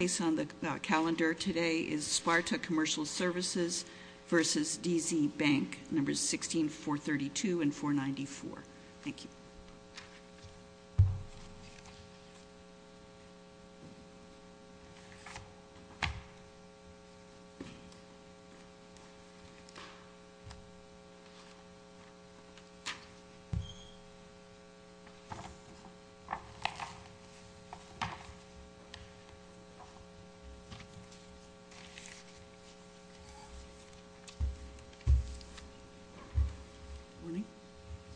Based on the calendar today is Sparta Commercial Services versus DZ Bank, numbers 16, 432 and 494. Thank you.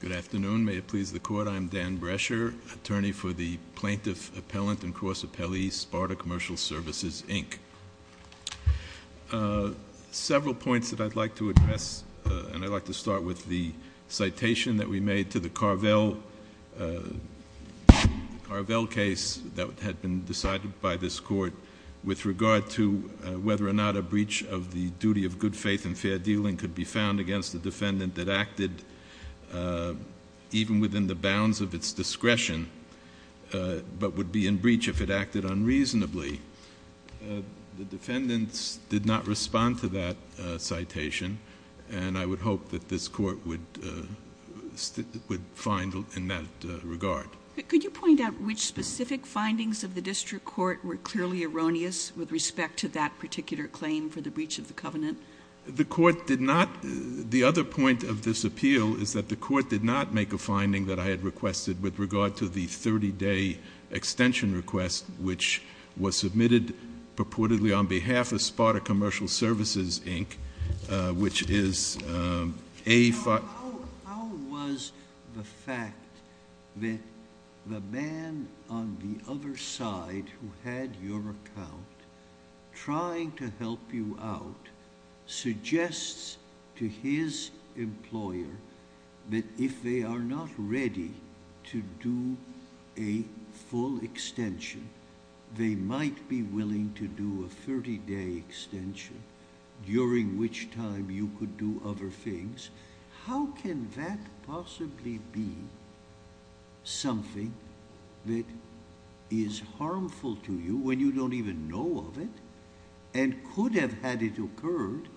Good afternoon. May it please the court, I'm Dan Brescher, attorney for the Plaintiff Appellant and Cross Appellee, Sparta Commercial Services, Inc. Several points that I'd like to address, and I'd like to start with the citation that we made to the Carvel case that had been decided by this court with regard to whether or not a breach of the duty of good faith and fair dealing could be found against the defendant that acted even within the bounds of its discretion, but would be in breach if it acted unreasonably. The defendants did not respond to that citation, and I would hope that this court would find in that regard. Could you point out which specific findings of the district court were clearly erroneous with respect to that particular claim for the breach of the covenant? The court did not, the other point of this appeal is that the court did not make a finding that I had requested with regard to the 30-day extension request, which was submitted purportedly on behalf of Sparta Commercial Services, Inc., How was the fact that the man on the other side who had your account trying to help you out suggests to his employer that if they are not ready to do a full extension, they might be willing to do a 30-day extension, during which time you could do other things? How can that possibly be something that is harmful to you when you don't even know of it, and could have had it occurred,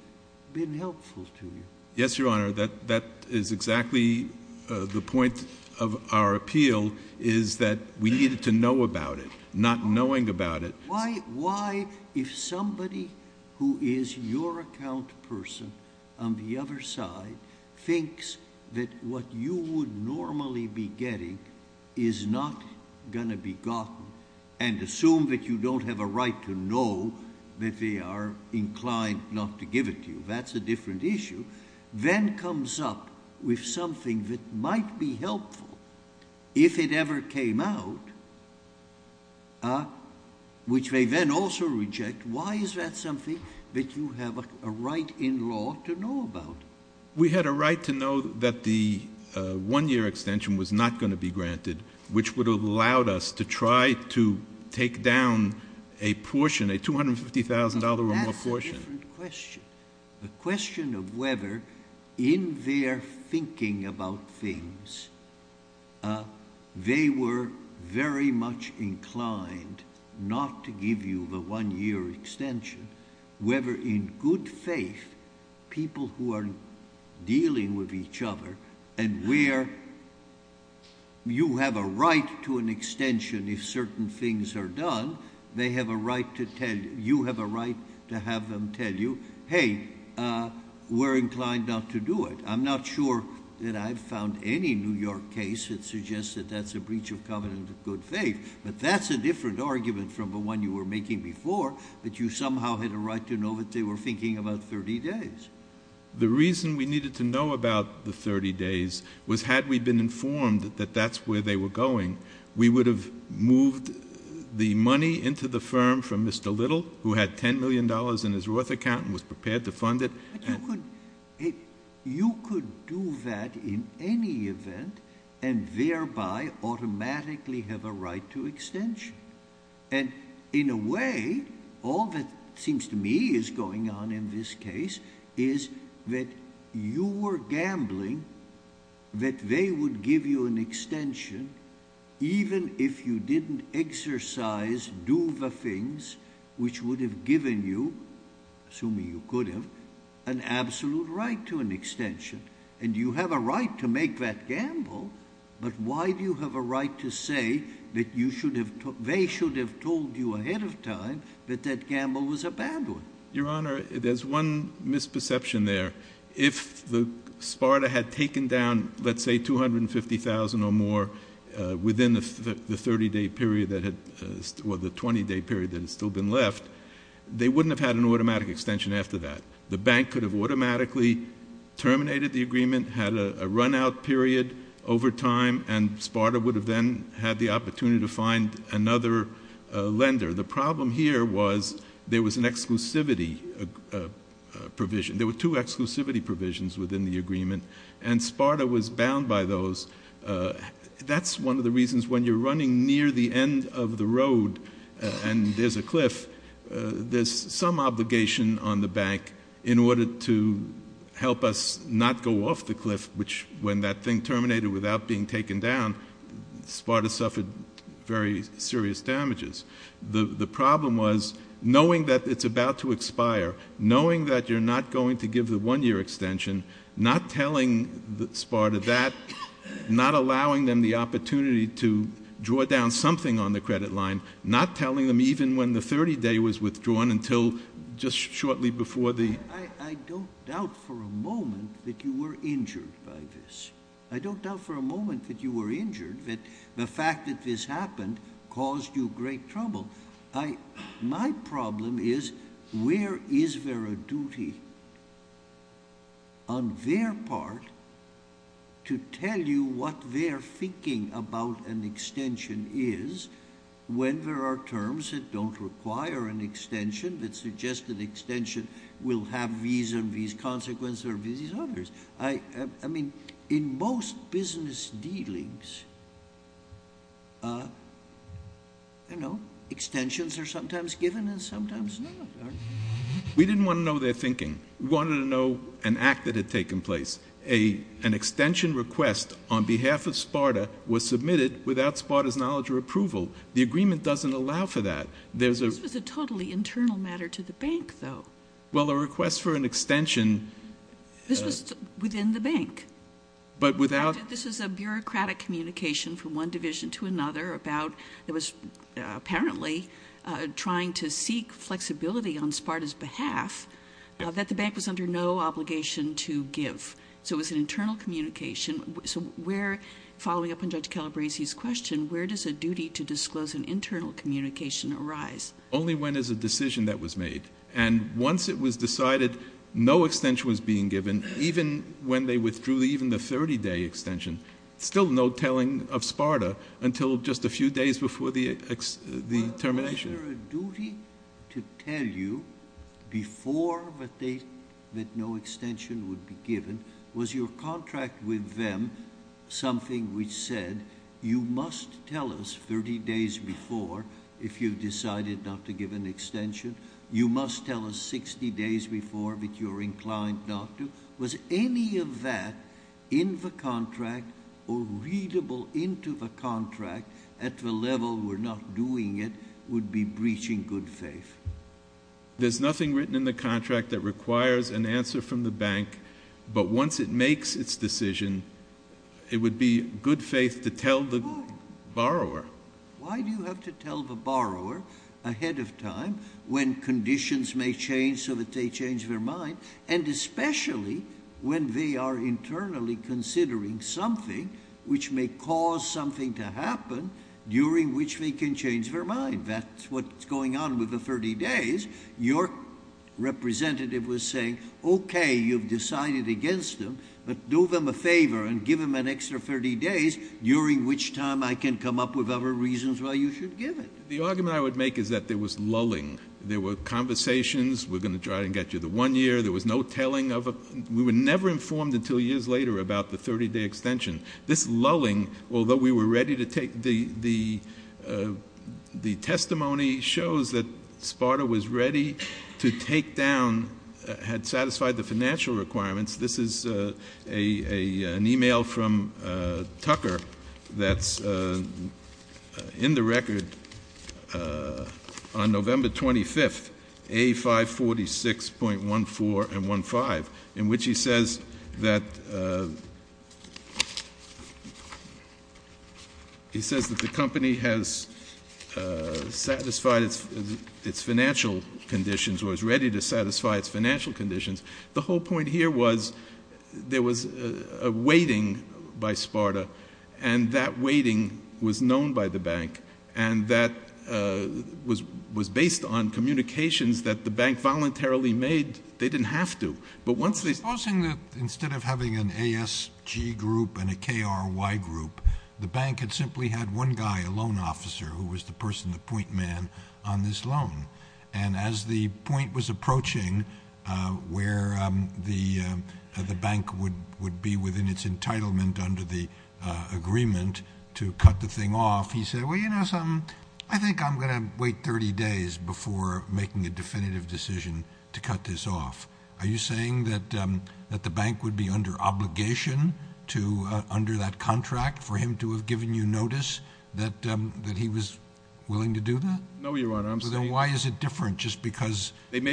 been helpful to you? Yes, Your Honor, that is exactly the point of our appeal, is that we needed to know about it, not knowing about it. Why, if somebody who is your account person on the other side thinks that what you would normally be getting is not going to be gotten, and assume that you don't have a right to know that they are inclined not to give it to you, that's a different issue, then comes up with something that might be helpful if it ever came out, which they then also reject, why is that something that you have a right in law to know about? We had a right to know that the one-year extension was not going to be granted, which would have allowed us to try to take down a portion, a $250,000 or more portion. That's a different question. The question of whether, in their thinking about things, they were very much inclined not to give you the one-year extension, whether in good faith, people who are dealing with each other, and where you have a right to an extension if certain things are done, they have a right to tell you, you have a right to have them tell you, hey, we're inclined not to do it. I'm not sure that I've found any New York case that suggests that that's a breach of covenant of good faith, but that's a different argument from the one you were making before, that you somehow had a right to know that they were thinking about 30 days. The reason we needed to know about the 30 days was, had we been informed that that's where they were going, we would have moved the money into the firm from Mr. Little, who had $10 million in his Roth account and was prepared to fund it. But you could do that in any event and thereby automatically have a right to extension. And in a way, all that seems to me is going on in this case is that you were gambling that they would give you an extension even if you didn't exercise, do the things, which would have given you, assuming you could have, an absolute right to an extension. And you have a right to make that gamble, but why do you have a right to say that they should have told you ahead of time that that gamble was a bad one? Your Honor, there's one misperception there. If Sparta had taken down, let's say, $250,000 or more within the 20-day period that had still been left, they wouldn't have had an automatic extension after that. The bank could have automatically terminated the agreement, had a run-out period over time, and Sparta would have then had the opportunity to find another lender. The problem here was there was an exclusivity provision. There were two exclusivity provisions within the agreement, and Sparta was bound by those. That's one of the reasons when you're running near the end of the road and there's a cliff, there's some obligation on the bank in order to help us not go off the cliff, which when that thing terminated without being taken down, Sparta suffered very serious damages. The problem was knowing that it's about to expire, knowing that you're not going to give the one-year extension, not telling Sparta that, not allowing them the opportunity to draw down something on the credit line, not telling them even when the 30-day was withdrawn until just shortly before the— I don't doubt for a moment that you were injured by this. I don't doubt for a moment that you were injured, that the fact that this happened caused you great trouble. My problem is where is there a duty on their part to tell you what they're thinking about an extension is when there are terms that don't require an extension that suggest an extension will have these and these consequences or these and others? I mean, in most business dealings, you know, extensions are sometimes given and sometimes not. We didn't want to know their thinking. We wanted to know an act that had taken place. An extension request on behalf of Sparta was submitted without Sparta's knowledge or approval. The agreement doesn't allow for that. This was a totally internal matter to the bank, though. Well, a request for an extension— This was within the bank. But without— This was a bureaucratic communication from one division to another about it was apparently trying to seek flexibility on Sparta's behalf that the bank was under no obligation to give. So it was an internal communication. So where, following up on Judge Calabresi's question, where does a duty to disclose an internal communication arise? Only when there's a decision that was made. And once it was decided no extension was being given, even when they withdrew even the 30-day extension, still no telling of Sparta until just a few days before the termination. Was there a duty to tell you before that no extension would be given? Was your contract with them something which said, you must tell us 30 days before if you've decided not to give an extension? You must tell us 60 days before if you're inclined not to? Was any of that in the contract or readable into the contract at the level we're not doing it would be breaching good faith? There's nothing written in the contract that requires an answer from the bank. But once it makes its decision, it would be good faith to tell the borrower. Why do you have to tell the borrower ahead of time when conditions may change so that they change their mind? And especially when they are internally considering something which may cause something to happen during which they can change their mind. That's what's going on with the 30 days. Your representative was saying, okay, you've decided against them, but do them a favor and give them an extra 30 days during which time I can come up with other reasons why you should give it. The argument I would make is that there was lulling. There were conversations. We're going to try and get you the one year. There was no telling of it. We were never informed until years later about the 30-day extension. This lulling, although we were ready to take the testimony, shows that Sparta was ready to take down, had satisfied the financial requirements. This is an e-mail from Tucker that's in the record on November 25th, A546.14 and 15, in which he says that the company has satisfied its financial conditions or is ready to satisfy its financial conditions. The whole point here was there was a waiting by Sparta, and that waiting was known by the bank, and that was based on communications that the bank voluntarily made. They didn't have to. But once they said, Supposing that instead of having an ASG group and a KRY group, the bank had simply had one guy, a loan officer, who was the person, the point man, on this loan. And as the point was approaching where the bank would be within its entitlement under the agreement to cut the thing off, he said, Well, you know something? I think I'm going to wait 30 days before making a definitive decision to cut this off. Are you saying that the bank would be under obligation to, under that contract, for him to have given you notice that he was willing to do that? No, Your Honor. Then why is it different just because in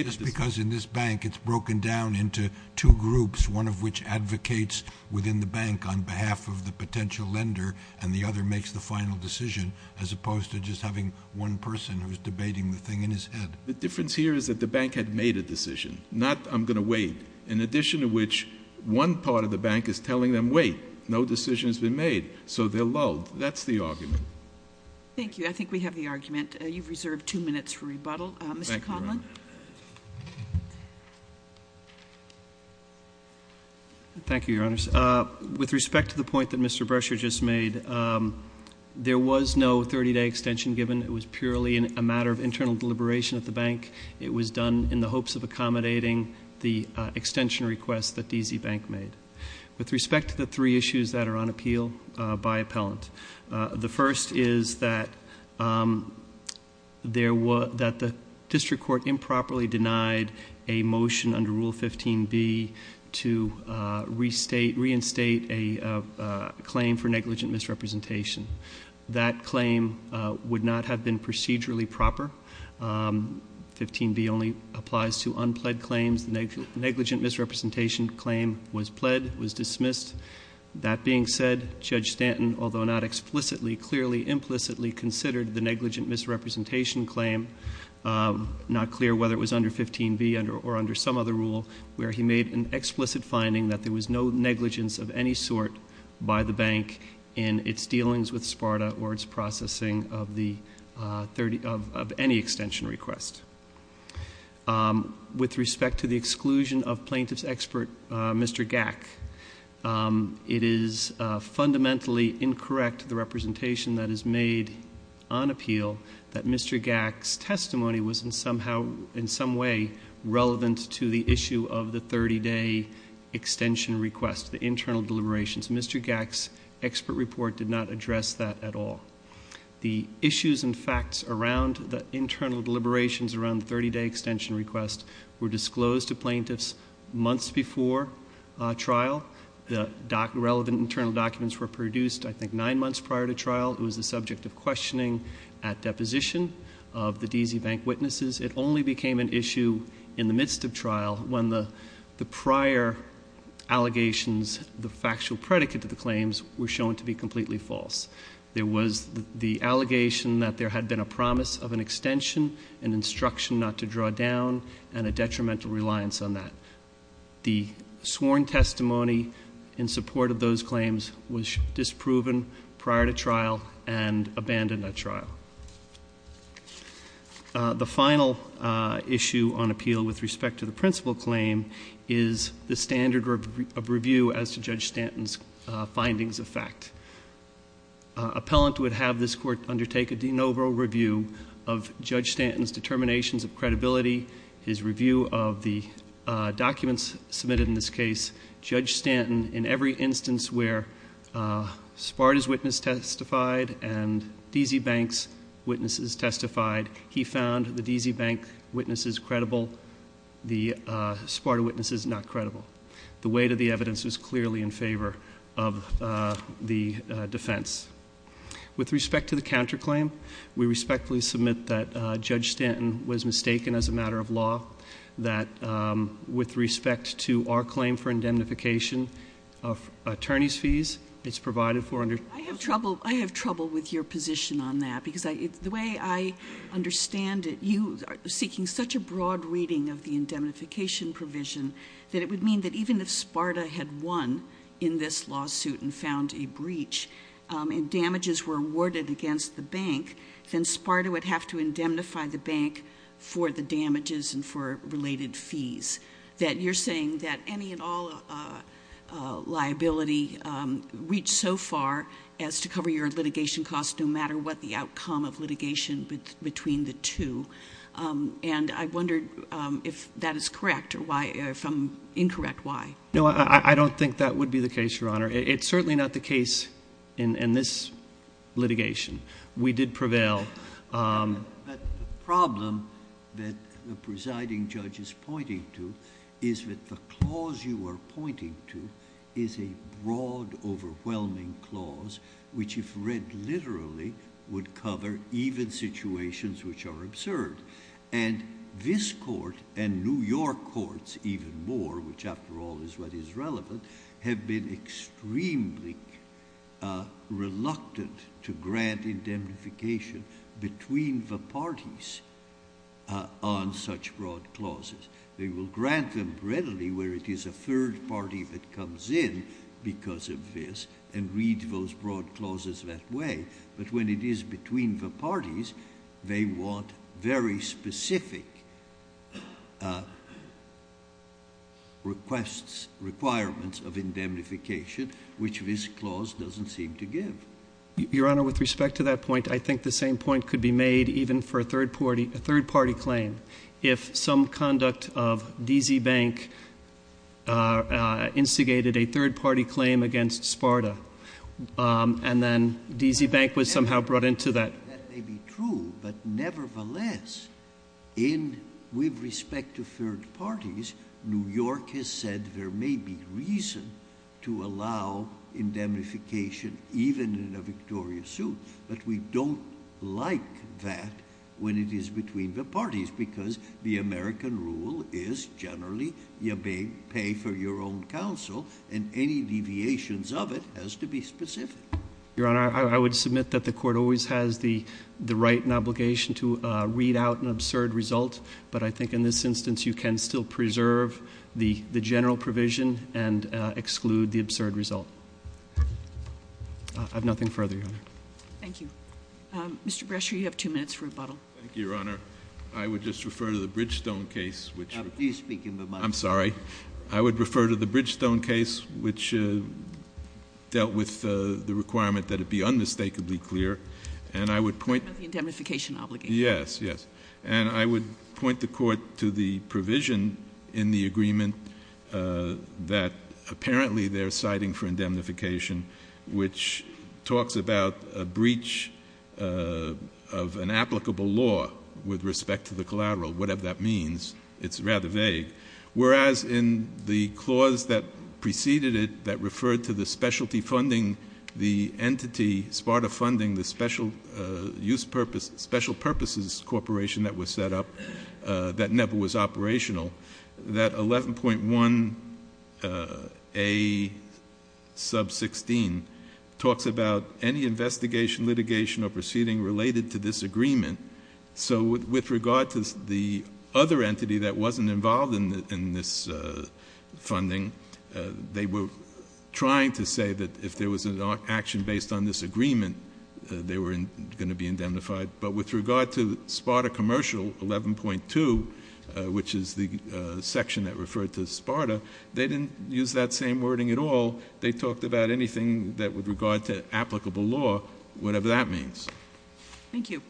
this bank it's broken down into two groups, one of which advocates within the bank on behalf of the potential lender, and the other makes the final decision as opposed to just having one person who is debating the thing in his head? The difference here is that the bank had made a decision, not I'm going to wait, in addition to which one part of the bank is telling them, Wait, no decision has been made. So they're lulled. That's the argument. Thank you. I think we have the argument. You've reserved two minutes for rebuttal. Mr. Conlon. Thank you, Your Honors. With respect to the point that Mr. Brescher just made, there was no 30-day extension given. It was purely a matter of internal deliberation at the bank. It was done in the hopes of accommodating the extension request that D.C. Bank made. With respect to the three issues that are on appeal by appellant, the first is that the district court improperly denied a motion under Rule 15B to reinstate a claim for negligent misrepresentation. That claim would not have been procedurally proper. 15B only applies to unpled claims. Negligent misrepresentation claim was pled, was dismissed. That being said, Judge Stanton, although not explicitly, clearly, implicitly considered the negligent misrepresentation claim, not clear whether it was under 15B or under some other rule, where he made an explicit finding that there was no negligence of any sort by the bank in its dealings with SPARTA or its processing of any extension request. With respect to the exclusion of plaintiff's expert, Mr. Gack, it is fundamentally incorrect, the representation that is made on appeal, that Mr. Gack's testimony was in some way relevant to the issue of the 30-day extension request, the internal deliberations. Mr. Gack's expert report did not address that at all. The issues and facts around the internal deliberations around the 30-day extension request were disclosed to plaintiffs months before trial. The relevant internal documents were produced, I think, nine months prior to trial. It was the subject of questioning at deposition of the D.C. Bank witnesses. It only became an issue in the midst of trial when the prior allegations, the factual predicate of the claims, were shown to be completely false. There was the allegation that there had been a promise of an extension, an instruction not to draw down, and a detrimental reliance on that. The sworn testimony in support of those claims was disproven prior to trial and abandoned at trial. The final issue on appeal with respect to the principal claim is the standard of review as to Judge Stanton's findings of fact. Appellant would have this Court undertake a de novo review of Judge Stanton's determinations of credibility, his review of the documents submitted in this case. Judge Stanton, in every instance where Sparta's witness testified and D.C. Bank's witnesses testified, he found the D.C. Bank witnesses credible, the Sparta witnesses not credible. The weight of the evidence was clearly in favor of the defense. With respect to the counterclaim, we respectfully submit that Judge Stanton was mistaken as a matter of law, that with respect to our claim for indemnification of attorney's fees, it's provided for under- I have trouble with your position on that because the way I understand it, you are seeking such a broad reading of the indemnification provision that it would mean that even if Sparta had won in this lawsuit and found a breach and damages were awarded against the bank, then Sparta would have to indemnify the bank for the damages and for related fees. That you're saying that any and all liability reached so far as to cover your litigation costs no matter what the outcome of litigation between the two. And I wondered if that is correct or if I'm incorrect, why? No, I don't think that would be the case, Your Honor. It's certainly not the case in this litigation. We did prevail. But the problem that the presiding judge is pointing to is that the clause you are pointing to is a broad, overwhelming clause which if read literally would cover even situations which are absurd. And this court and New York courts even more, which after all is what is relevant, have been extremely reluctant to grant indemnification between the parties on such broad clauses. They will grant them readily where it is a third party that comes in because of this and read those broad clauses that way. But when it is between the parties, they want very specific requests, requirements of indemnification, which this clause doesn't seem to give. Your Honor, with respect to that point, I think the same point could be made even for a third party claim. If some conduct of D.C. Bank instigated a third party claim against Sparta and then D.C. Bank was somehow brought into that. That may be true, but nevertheless, with respect to third parties, New York has said there may be reason to allow indemnification even in a victorious suit. But we don't like that when it is between the parties because the American rule is generally you pay for your own counsel and any deviations of it has to be specific. Your Honor, I would submit that the court always has the right and obligation to read out an absurd result, but I think in this instance you can still preserve the general provision and exclude the absurd result. I have nothing further, Your Honor. Thank you. Mr. Brescher, you have two minutes for rebuttal. Thank you, Your Honor. I would just refer to the Bridgestone case, which I'm sorry. I would refer to the Bridgestone case, which dealt with the requirement that it be unmistakably clear and I would point to the provision in the agreement that apparently they're citing for indemnification, which talks about a breach of an applicable law with respect to the collateral, whatever that means. It's rather vague. Whereas in the clause that preceded it that referred to the specialty funding, the entity, SPARTA funding, the special use purpose, special purposes corporation that was set up that never was operational, that 11.1A sub 16 talks about any investigation, litigation or proceeding related to this agreement. So with regard to the other entity that wasn't involved in this funding, they were trying to say that if there was an action based on this agreement, they were going to be indemnified. But with regard to SPARTA commercial 11.2, which is the section that referred to SPARTA, they didn't use that same wording at all. They talked about anything that would regard to applicable law, whatever that means. Thank you.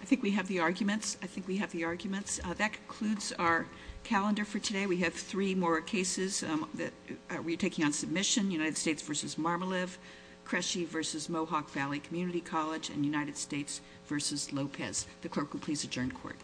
I think we have the arguments. I think we have the arguments. That concludes our calendar for today. We have three more cases that we're taking on submission. United States v. Marmolive, Creshe v. Mohawk Valley Community College and United States v. Lopez. The clerk will please adjourn court.